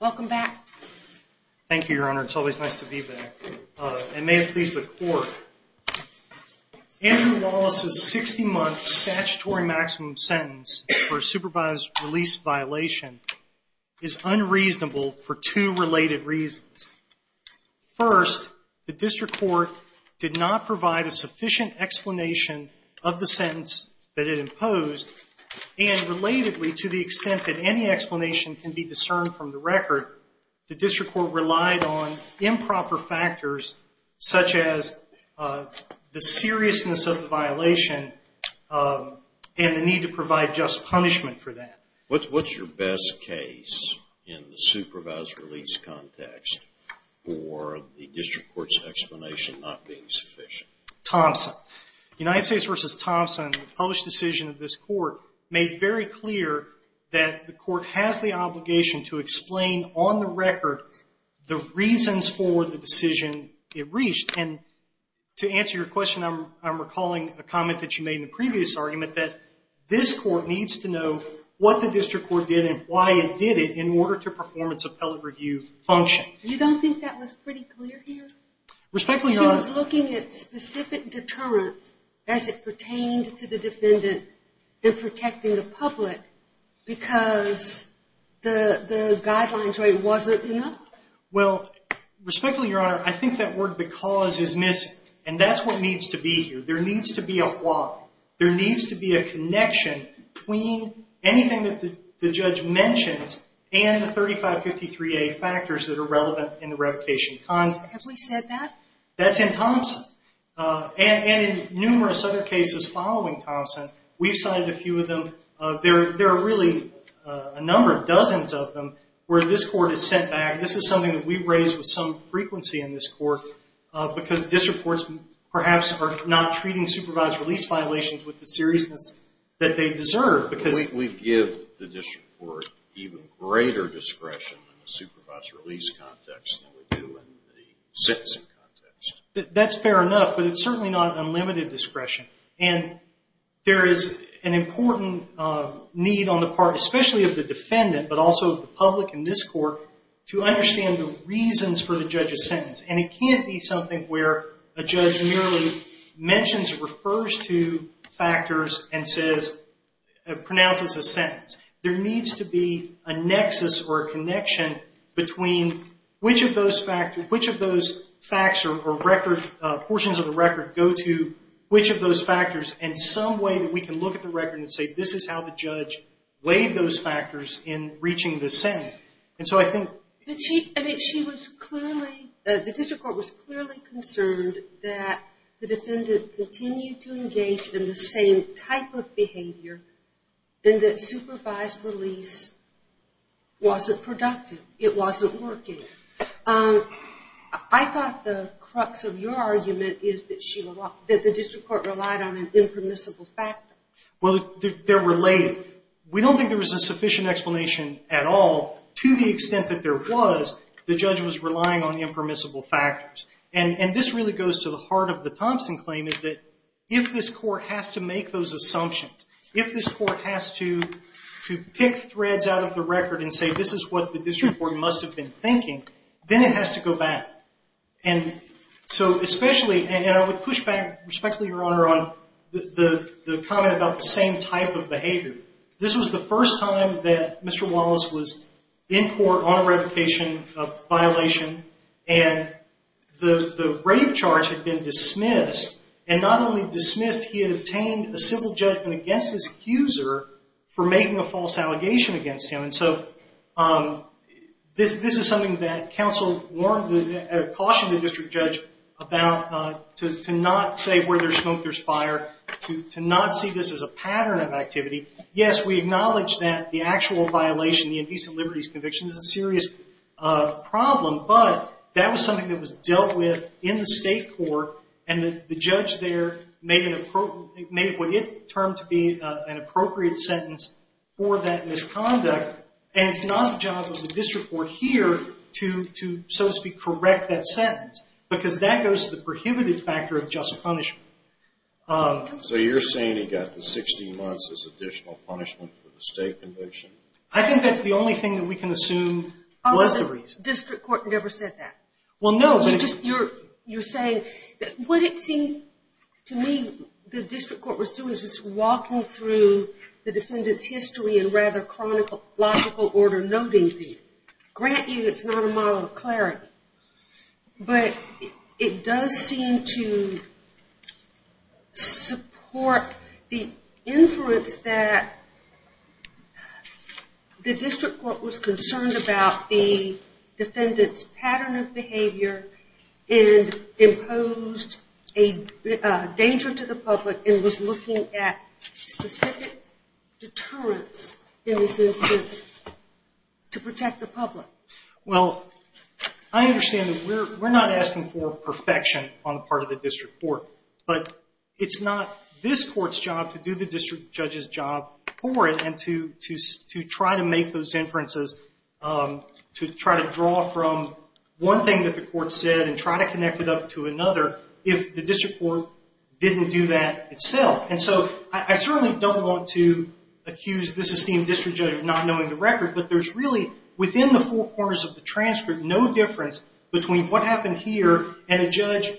Welcome back. Thank you, Your Honor. It's always nice to be back. And may it please the Court. Andrew Wallace's 60-month statutory maximum sentence for supervised release violation is unreasonable for two related reasons. First, the District Court did not provide a sufficient explanation of the sentence that it imposed, and relatedly to the extent that any explanation can be discerned from the record, the District Court relied on improper factors such as the seriousness of the violation and the need to provide just punishment for that. What's your best case in the supervised release context for the District Court's explanation not being sufficient? Thompson. United States v. Thompson, the published decision of this Court, made very clear that the Court has the obligation to explain on the record the reasons for the decision it reached. And to answer your question, I'm recalling a comment that you made in the previous argument that this Court needs to know what the District Court did and why it did it in order to perform its appellate review function. You don't think that was pretty clear here? Respectfully not. She was looking at specific deterrents as it pertained to the defendant than protecting the public because the guidelines rate wasn't enough? Well, respectfully, Your Honor, I think that word because is missing, and that's what needs to be here. There needs to be a why. There needs to be a connection between anything that the judge mentions and the 3553A factors that are relevant in the revocation context. Have we said that? That's in Thompson, and in numerous other cases following Thompson, we've cited a few of them. There are really a number, dozens of them, where this Court is sent back. This is something that we've raised with some frequency in this Court because District Courts perhaps are not treating supervised release violations with the seriousness that they deserve. We give the District Court even greater discretion in the supervised release context than we do in the sentencing context. That's fair enough, but it's certainly not unlimited discretion. There is an important need on the part especially of the defendant, but also the public in this Court, to understand the reasons for the judge's sentence. It can't be something where a judge merely mentions, refers to factors, and pronounces a sentence. There needs to be a nexus or a connection between which of those factors, which of those facts or which of those factors, and some way that we can look at the record and say this is how the judge laid those factors in reaching the sentence. The District Court was clearly concerned that the defendant continued to engage in the same type of behavior and that supervised release wasn't productive. It wasn't working. I thought the crux of your argument is that the District Court relied on an impermissible factor. Well, they're related. We don't think there was a sufficient explanation at all to the extent that there was, the judge was relying on the impermissible factors. And this really goes to the heart of the Thompson claim is that if this Court has to make those assumptions, if this Court has to pick threads out of the record and say this is what the District Court must have been thinking, then it has to go back. And so especially, and I would push back respectfully, Your Honor, on the comment about the same type of behavior. This was the first time that Mr. Wallace was in court on a revocation, a violation, and the rape charge had been dismissed. And not only dismissed, he had obtained a civil judgment against his accuser for making a false allegation against him. And so this is something that counsel cautioned the District Judge about to not say where there's smoke, there's fire, to not see this as a pattern of activity. Yes, we acknowledge that the actual violation, the Indecent Liberties Conviction, is a serious problem, but that was something that was dealt with in the State Court, and the judge there made what it termed to be an appropriate sentence for that misconduct. And it's not the job of the District Court here to, so to speak, correct that sentence. Because that goes to the prohibited factor of just punishment. So you're saying he got the 16 months as additional punishment for the State Conviction? I think that's the only thing that we can assume was the reason. Oh, the District Court never said that. Well, no. You're saying that what it seemed to me the District Court was doing is just walking through the defendant's history in rather chronological order, noting things. Granted, it's not a model of clarity, but it does seem to support the inference that the District Court was concerned about the defendant's pattern of behavior and imposed a danger to the public and was looking at specific deterrents in this instance to protect the public. Well, I understand that we're not asking for perfection on the part of the District Court, but it's not this Court's job to do the District Judge's job for it and to try to make those inferences, to try to draw from one thing that the Court said and try to connect it up to another if the District Court didn't do that itself. And so I certainly don't want to accuse this esteemed District Judge of not knowing the record, but there's really, within the four corners of the transcript, no difference between what happened here and a judge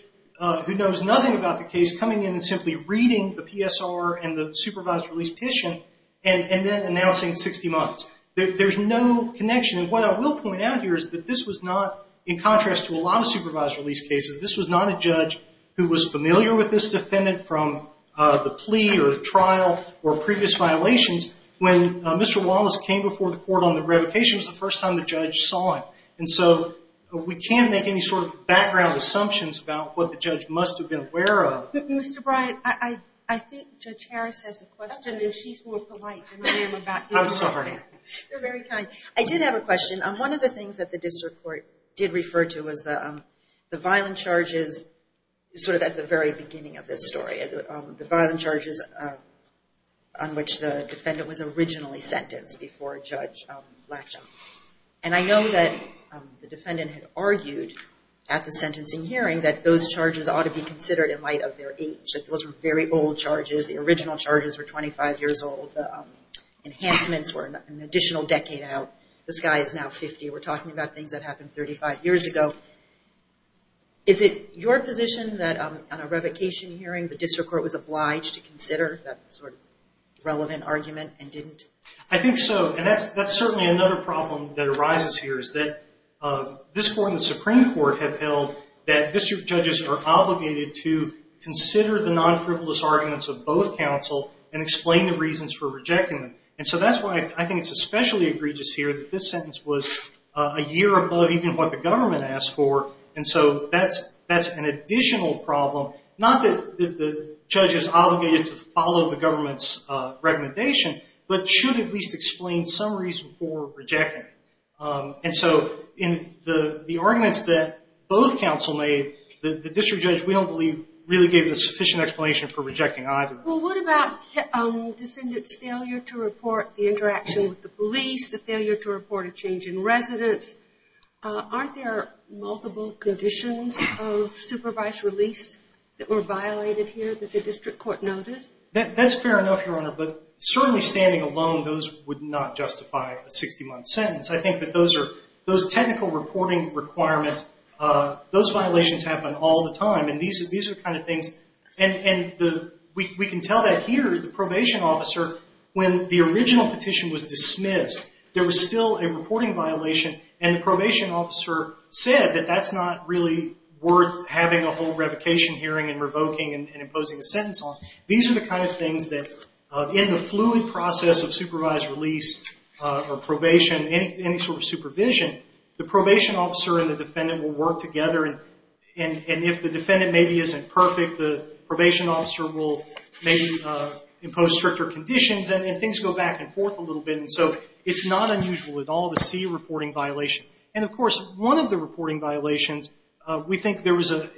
who knows nothing about the case coming in and simply reading the PSR and the supervised release petition and then announcing 60 months. There's no connection. And what I will point out here is this was not, in contrast to a lot of supervised release cases, this was not a judge who was familiar with this defendant from the plea or trial or previous violations. When Mr. Wallace came before the Court on the revocation, it was the first time the judge saw him. And so we can't make any sort of background assumptions about what the judge must have been aware of. Mr. Bryant, I think Judge Harris has a question and she's more polite than I am about you. I'm sorry. You're very kind. I did have a question. One of the things that the District Court did refer to was the violent charges sort of at the very beginning of this story, the violent charges on which the defendant was originally sentenced before Judge Latchaw. And I know that the defendant had argued at the sentencing hearing that those charges ought to be considered in light of their age, that those were very old charges. The original charges were an additional decade out. The sky is now 50. We're talking about things that happened 35 years ago. Is it your position that on a revocation hearing, the District Court was obliged to consider that sort of relevant argument and didn't? I think so. And that's certainly another problem that arises here is that this Court and the Supreme Court have held that district judges are obligated to consider the non-frivolous arguments of both counsel and explain the egregious here that this sentence was a year above even what the government asked for. And so that's an additional problem. Not that the judge is obligated to follow the government's recommendation, but should at least explain some reason for rejecting it. And so in the arguments that both counsel made, the district judge, we don't believe, really gave a sufficient explanation for rejecting either. Well, what about the defendant's failure to report the interaction with the police, the failure to report a change in residence? Aren't there multiple conditions of supervised release that were violated here that the District Court noted? That's fair enough, Your Honor, but certainly standing alone, those would not justify a 60-month sentence. I think that those technical reporting requirements, those violations happen all the time. And these are the kind of things, and we can tell that here, the probation officer, when the original petition was dismissed, there was still a reporting violation. And the probation officer said that that's not really worth having a whole revocation hearing and revoking and imposing a sentence on. These are the kind of things that in the fluid process of supervised release or probation, any sort of supervision, the probation officer and the defendant will work together. And if the defendant maybe isn't perfect, the probation officer will maybe impose stricter conditions, and things go back and forth a little bit. And so it's not unusual at all to see a reporting violation. And of course, one of the reporting violations, we think there was a,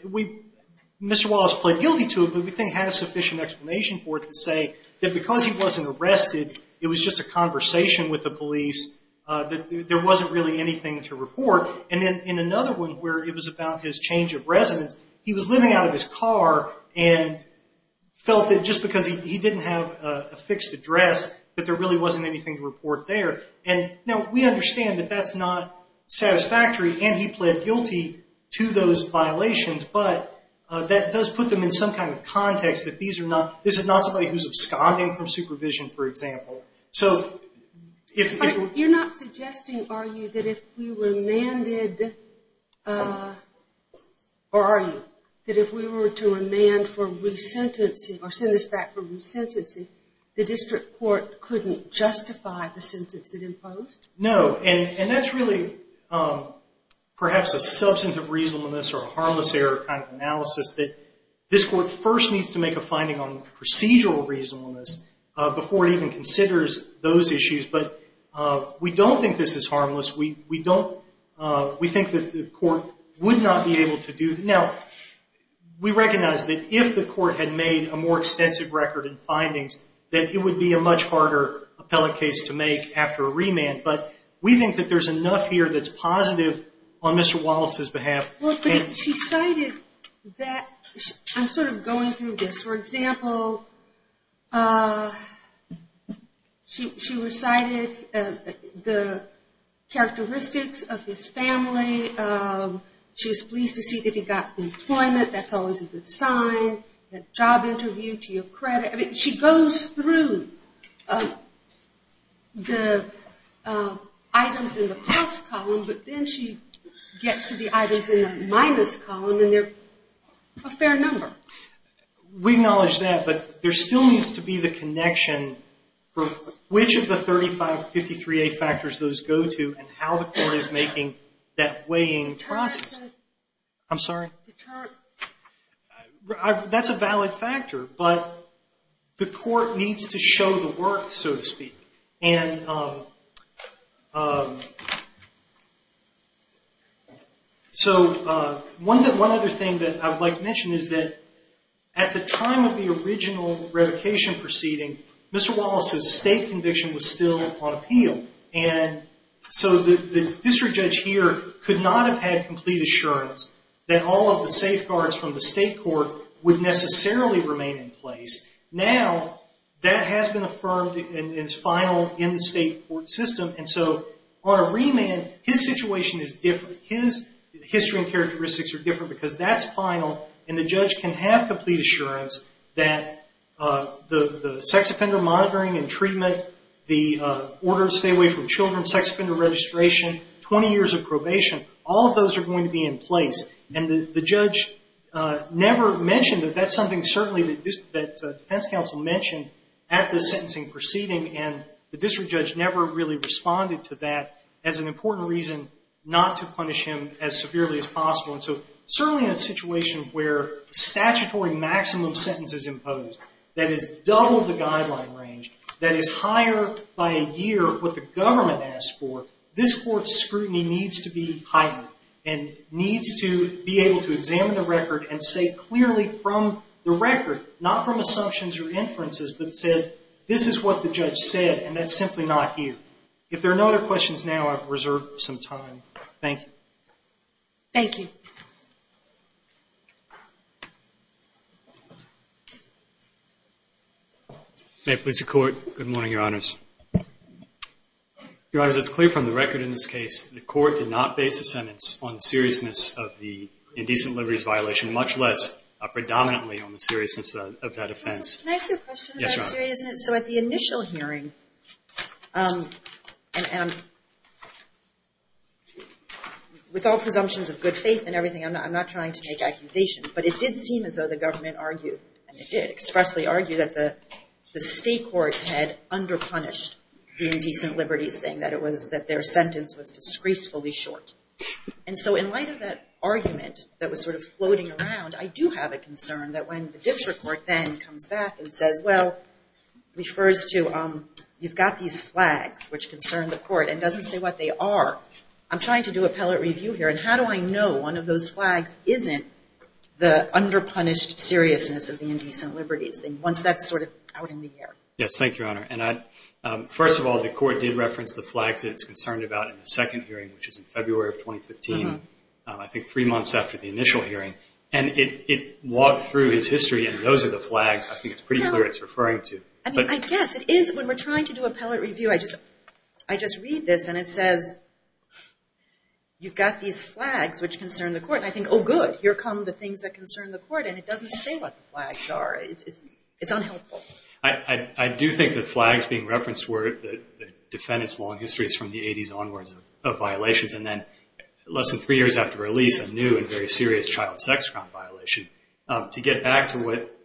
Mr. Wallace pled guilty to it, but we think he had a sufficient explanation for it to say that because he wasn't arrested, it was just a conversation with the police, that there wasn't really anything to report. And then in another one where it was about his change of residence, he was living out of his car and felt that just because he didn't have a fixed address, that there really wasn't anything to report there. And now we understand that that's not satisfactory, and he pled guilty to those violations, but that does put them in some kind of context that these are not, this is not somebody who's absconding from supervision, for example. So, if... But you're not suggesting, are you, that if we were mandated, or are you, that if we were to remand for resentencing, or send this back for resentencing, the district court couldn't justify the sentence it imposed? No. And that's really perhaps a substantive reasonableness or a harmless error kind of analysis that this court first needs to make a finding on procedural reasonableness before it even considers those issues. But we don't think this is harmless. We don't, we think that the court would not be able to do that. Now, we recognize that if the court had made a more extensive record in findings, that it would be a much harder appellate case to make after a remand. But we think that there's enough here that's positive on Mr. Wallace's behalf. Well, but she cited that, I'm sort of going through this. For example, she recited the characteristics of his family, she was pleased to see that he got employment, that's always a good sign, that job interview, to your credit. I mean, she goes through the items in the plus column, but then she gets to the items in the minus column, and they're a fair number. We acknowledge that, but there still needs to be the connection from which of the 3553A factors those go to and how the court is making that weighing process. I'm sorry? That's a valid factor, but the court needs to show the work, so to speak. And so one other thing that I'd like to mention is that at the time of the original revocation proceeding, Mr. Wallace's state conviction was still on appeal. And so the district judge here could not have had complete assurance that all of the safeguards from the state court would necessarily remain in place. Now that has been affirmed and is final in the state court system. And so on a remand, his situation is different. His history and characteristics are different because that's final, and the judge can have complete assurance that the sex offender monitoring and treatment, the order to stay away from children, sex offender registration, 20 years of probation, all of those are going to be in place. And the judge never mentioned that that's something certainly that defense counsel mentioned at the sentencing proceeding, and the district judge never really responded to that as an important reason not to punish him as severely as possible. And so certainly in a situation where statutory maximum sentence is imposed, that is double the guideline range, that is higher by a year what the government asked for, this court's scrutiny needs to be heightened and needs to be able to examine the record and say clearly from the record, not from assumptions or inferences, but said this is what the judge said and that's simply not here. If there are no other questions now, I've reserved some time. Thank you. Thank you. May it please the court. Good morning, your honors. Your honors, it's clear from the record in this case the court did not base a sentence on seriousness of the indecent liberties violation, much less predominantly on the seriousness of that offense. Can I ask you a question about seriousness? So at the initial hearing, and with all presumptions of good faith and everything, I'm not trying to make accusations, but it did seem as though the government argued, and it did expressly argue, that the state court had underpunished the indecent liberties thing, that it was that their sentence was disgracefully short. And so in light of that argument that was sort of floating around, I do have a concern that when the district court then comes back and says, well, refers to you've got these flags, which concern the court, and doesn't say what they are, I'm trying to do appellate review here, and how do I know one of those flags isn't the underpunished seriousness of the indecent liberties thing once that's sort of out in the air? Yes, thank you, your honor. And I, first of all, the court did reference the flags that it's concerned about in the second hearing, which is in February of 2015, I think three months after the initial hearing, and it walked through his history, and those are the flags I think it's pretty clear it's referring to. I mean, I guess it is when we're trying to do appellate review, I just read this, and it says, you've got these flags which concern the court, and I think, oh good, here come the things that concern the court, and it doesn't say what the flags are. It's unhelpful. I do think the flags being referenced were the defendant's long history is from the 80s onwards of violations, and then less than three years after release, a new and very serious child sex crime violation. To get back to what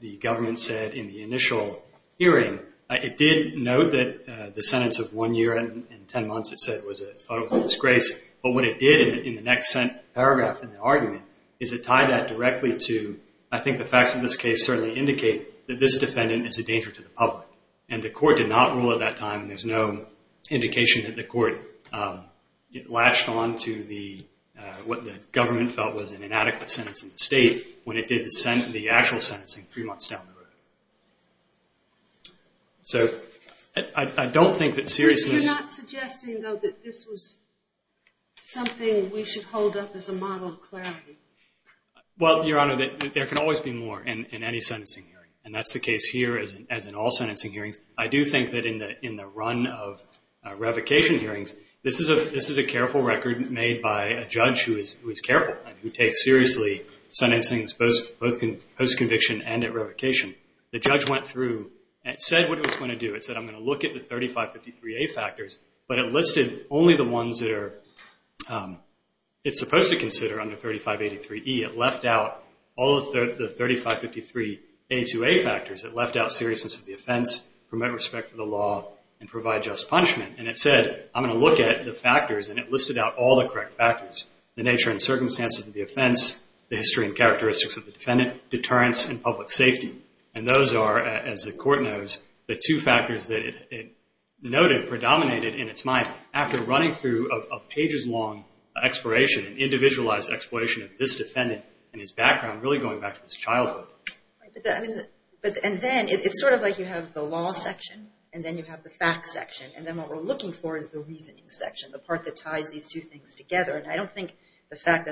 the government said in the initial hearing, it did note that the sentence of one year and ten months, it said, was a disgrace, but what it did in the next paragraph in the argument is it tied that directly to, I think the facts of this case certainly indicate that this defendant is a danger to the public, and the court did not rule at that time, and there's no indication that the court latched on to what the government felt was an inadequate sentence in the state when it did the actual sentencing three months down the road. So, I don't think that seriously... You're not suggesting, though, that this was something we should hold up as a model of clarity? Well, Your Honor, there can always be more in any sentencing hearing, and that's the run of revocation hearings. This is a careful record made by a judge who is careful and who takes seriously sentencing, both post-conviction and at revocation. The judge went through and said what he was going to do. It said, I'm going to look at the 3553A factors, but it listed only the ones that it's supposed to consider under 3583E. It left out all of the 3553A2A factors. It left out seriousness of the offense, promote respect for the law, and provide just punishment, and it said, I'm going to look at the factors, and it listed out all the correct factors, the nature and circumstances of the offense, the history and characteristics of the defendant, deterrence, and public safety, and those are, as the court knows, the two factors that it noted predominated in its mind after running through a pages-long exploration, an individualized exploration of this defendant and his background, really going back to his childhood. And then it's sort of like you have the law section, and then you have the fact section, and then what we're looking for is the reasoning section, the part that ties these two things together, and I don't think the fact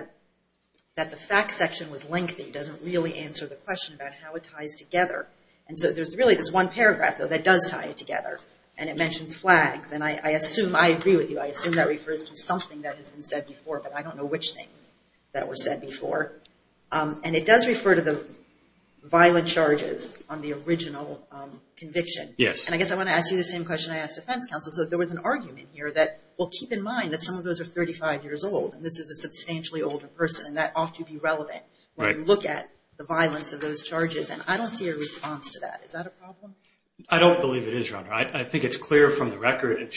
that the fact section was lengthy doesn't really answer the question about how it ties together, and so there's really this one paragraph, though, that does tie it together, and it mentions flags, and I assume, I agree with you, I assume that refers to something that has been said before, but I don't know which things that were said before. And it does refer to the violent charges on the original conviction. Yes. And I guess I want to ask you the same question I asked defense counsel, so if there was an argument here that, well, keep in mind that some of those are 35 years old, and this is a substantially older person, and that ought to be relevant when you look at the violence of those charges, and I don't see a response to that. Is that a problem? I don't believe it is, Your Honor. I think it's clear from the record, and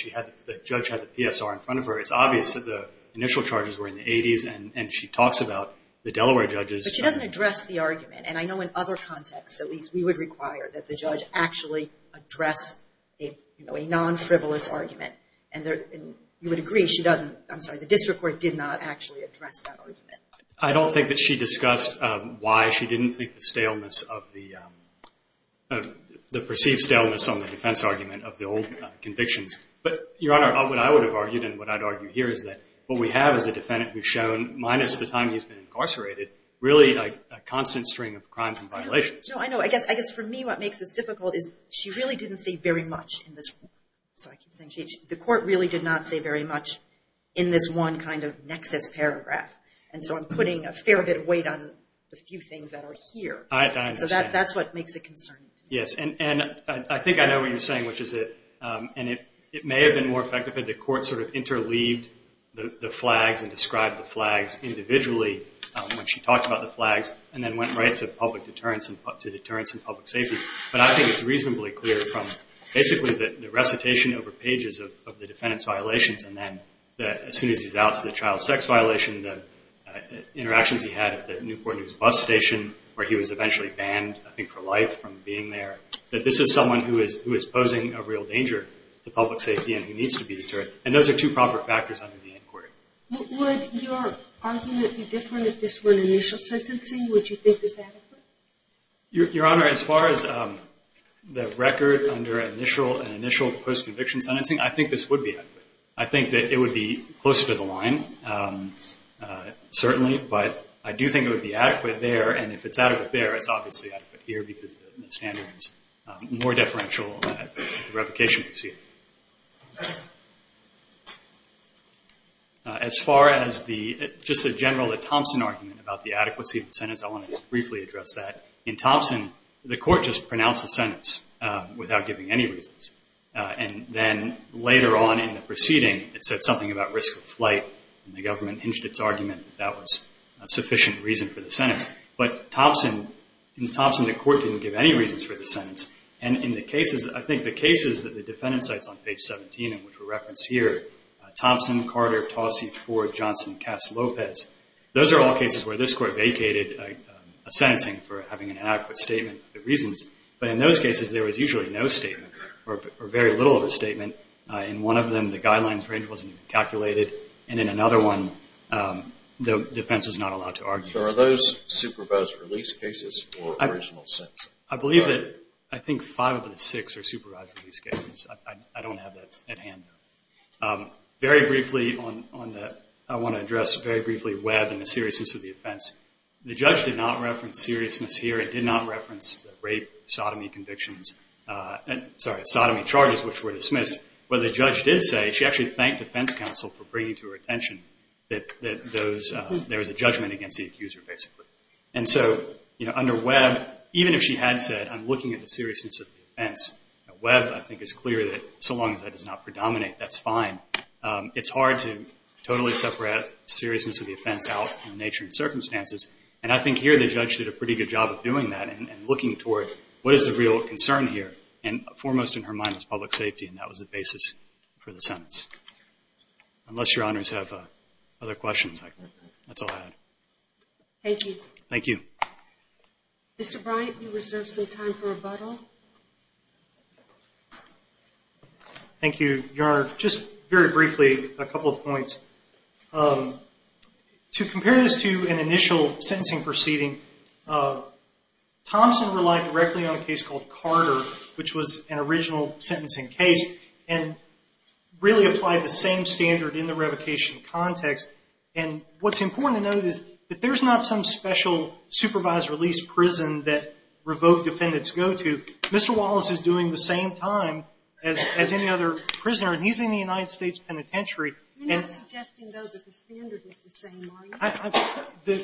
the judge had the PSR in front of her, it's obvious that the initial charges were in the 80s, and she talks about the Delaware judges. But she doesn't address the argument, and I know in other contexts, at least, we would require that the judge actually address, you know, a non-frivolous argument, and you would agree she doesn't, I'm sorry, the district court did not actually address that argument. I don't think that she discussed why she didn't think the staleness of the, the perceived staleness on the defense argument of the old convictions, but, Your Honor, what I would have argued, and what I'd argue here is that what we have is a defendant who's shown, minus the time he's been incarcerated, really a constant string of crimes and violations. No, I know, I guess for me what makes this difficult is she really didn't say very much in this, sorry, I keep saying she, the court really did not say very much in this one kind of nexus paragraph, and so I'm putting a fair bit of weight on the few things that are here. I understand. So that's what makes it concerning to me. Yes, and I think I know what you're saying, which is that, and it may have been more effective if the court sort of interleaved the flags and described the flags individually when she talked about the flags, and then went right to public deterrence and, to deterrence and public safety, but I think it's reasonably clear from basically the recitation over pages of the defendant's violations, and then as soon as he's out, it's the child sex violation, the interactions he had at the Newport News bus station, where he was eventually banned, I think, for life from being there, that this is someone who is, who is posing a real danger to public safety and who is a real danger to public safety and public safety, and so I think that's a good thing to consider, and those are two proper factors under the inquiry. Would your argument be different if this were an initial sentencing? Would you think this is adequate? Your Honor, as far as the record under initial and initial post-conviction sentencing, I think this would be adequate. I think that it would be closer to the line, certainly, but I do think it would be adequate there, and if it's adequate there, it's obviously adequate here because the standard is more deferential at the revocation proceeding. As far as the, just the general Thompson argument about the adequacy of the sentence, I want to just briefly address that. In Thompson, the court just pronounced the sentence without giving any reasons, and then later on in the proceeding, it said something about risk of flight, and the government hinged its argument that that was a sufficient reason for the sentence, but Thompson, in Thompson, the court didn't give any reasons for the sentence, and in the cases, I think the cases that the defendant cites on page 17 and which were referenced here, Thompson, Carter, Tausey, Ford, Johnson, Cass, Lopez, those are all cases where this court vacated a sentencing for having an adequate statement of the reasons, but in those cases, there was usually no statement or very little of a statement. In one of them, the guidelines range wasn't calculated, and in another one, the defense was not allowed to argue. So are those supervised release cases or original sentences? I believe that I think five of the six are supervised release cases. I don't have that at hand. Very briefly on the, I want to address very briefly Webb and the seriousness of the offense. The judge did not reference seriousness here. It did not reference the rape, sodomy convictions, sorry, sodomy charges which were dismissed, but what the judge did say, she actually thanked defense counsel for bringing to her attention that there was a judgment against the accuser basically. And so under Webb, even if she had said, I'm looking at the seriousness of the offense, Webb I think is clear that so long as that does not predominate, that's fine. It's hard to totally separate seriousness of the offense out in nature and circumstances, and I think here the judge did a pretty good job of doing that and looking toward what is the real concern here, and foremost in her mind was public safety, and that was the basis for the sentence. Unless your honors have other questions, that's all I have. Thank you. Thank you. Mr. Bryant, you reserve some time for rebuttal. Thank you, your honor. Just very briefly, a couple of points. To compare this to an initial sentencing proceeding, Thompson relied directly on a case called and really applied the same standard in the revocation context. And what's important to note is that there's not some special supervised release prison that revoked defendants go to. Mr. Wallace is doing the same time as any other prisoner, and he's in the United States penitentiary. You're not suggesting, though, that the standard is the same, are you?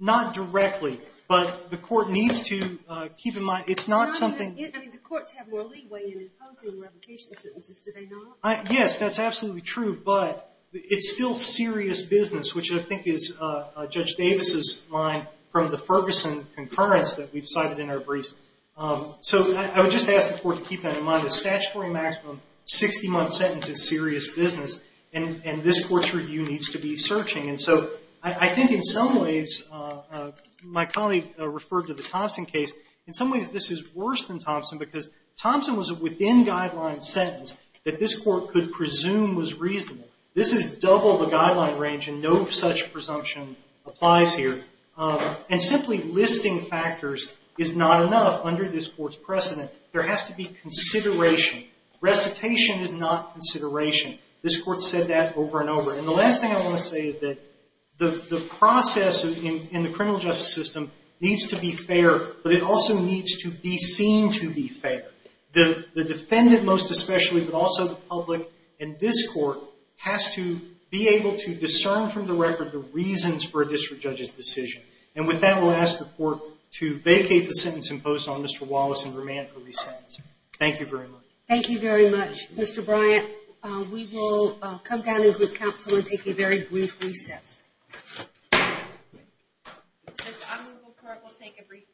Not directly, but the court needs to keep in mind, it's not something— I mean, the courts have more leeway in imposing revocation sentences, do they not? Yes, that's absolutely true. But it's still serious business, which I think is Judge Davis's line from the Ferguson concurrence that we've cited in our briefs. So I would just ask the court to keep that in mind. The statutory maximum 60-month sentence is serious business, and this court's review needs to be searching. And so I think in some ways—my colleague referred to the Thompson case—in some ways this is worse than Thompson, because Thompson was a within-guideline sentence that this court could presume was reasonable. This is double the guideline range, and no such presumption applies here. And simply listing factors is not enough under this court's precedent. There has to be consideration. Recitation is not consideration. This court said that over and over. And the last thing I want to say is that the process in the criminal justice system needs to be fair, but it also needs to be seen to be fair. The defendant most especially, but also the public and this court, has to be able to discern from the record the reasons for a district judge's decision. And with that, I will ask the court to vacate the sentence imposed on Mr. Wallace and remand for re-sentencing. Thank you very much. Thank you very much. Mr. Bryant, we will come down in group counsel and take a very brief recess. This honorable court will take a brief recess.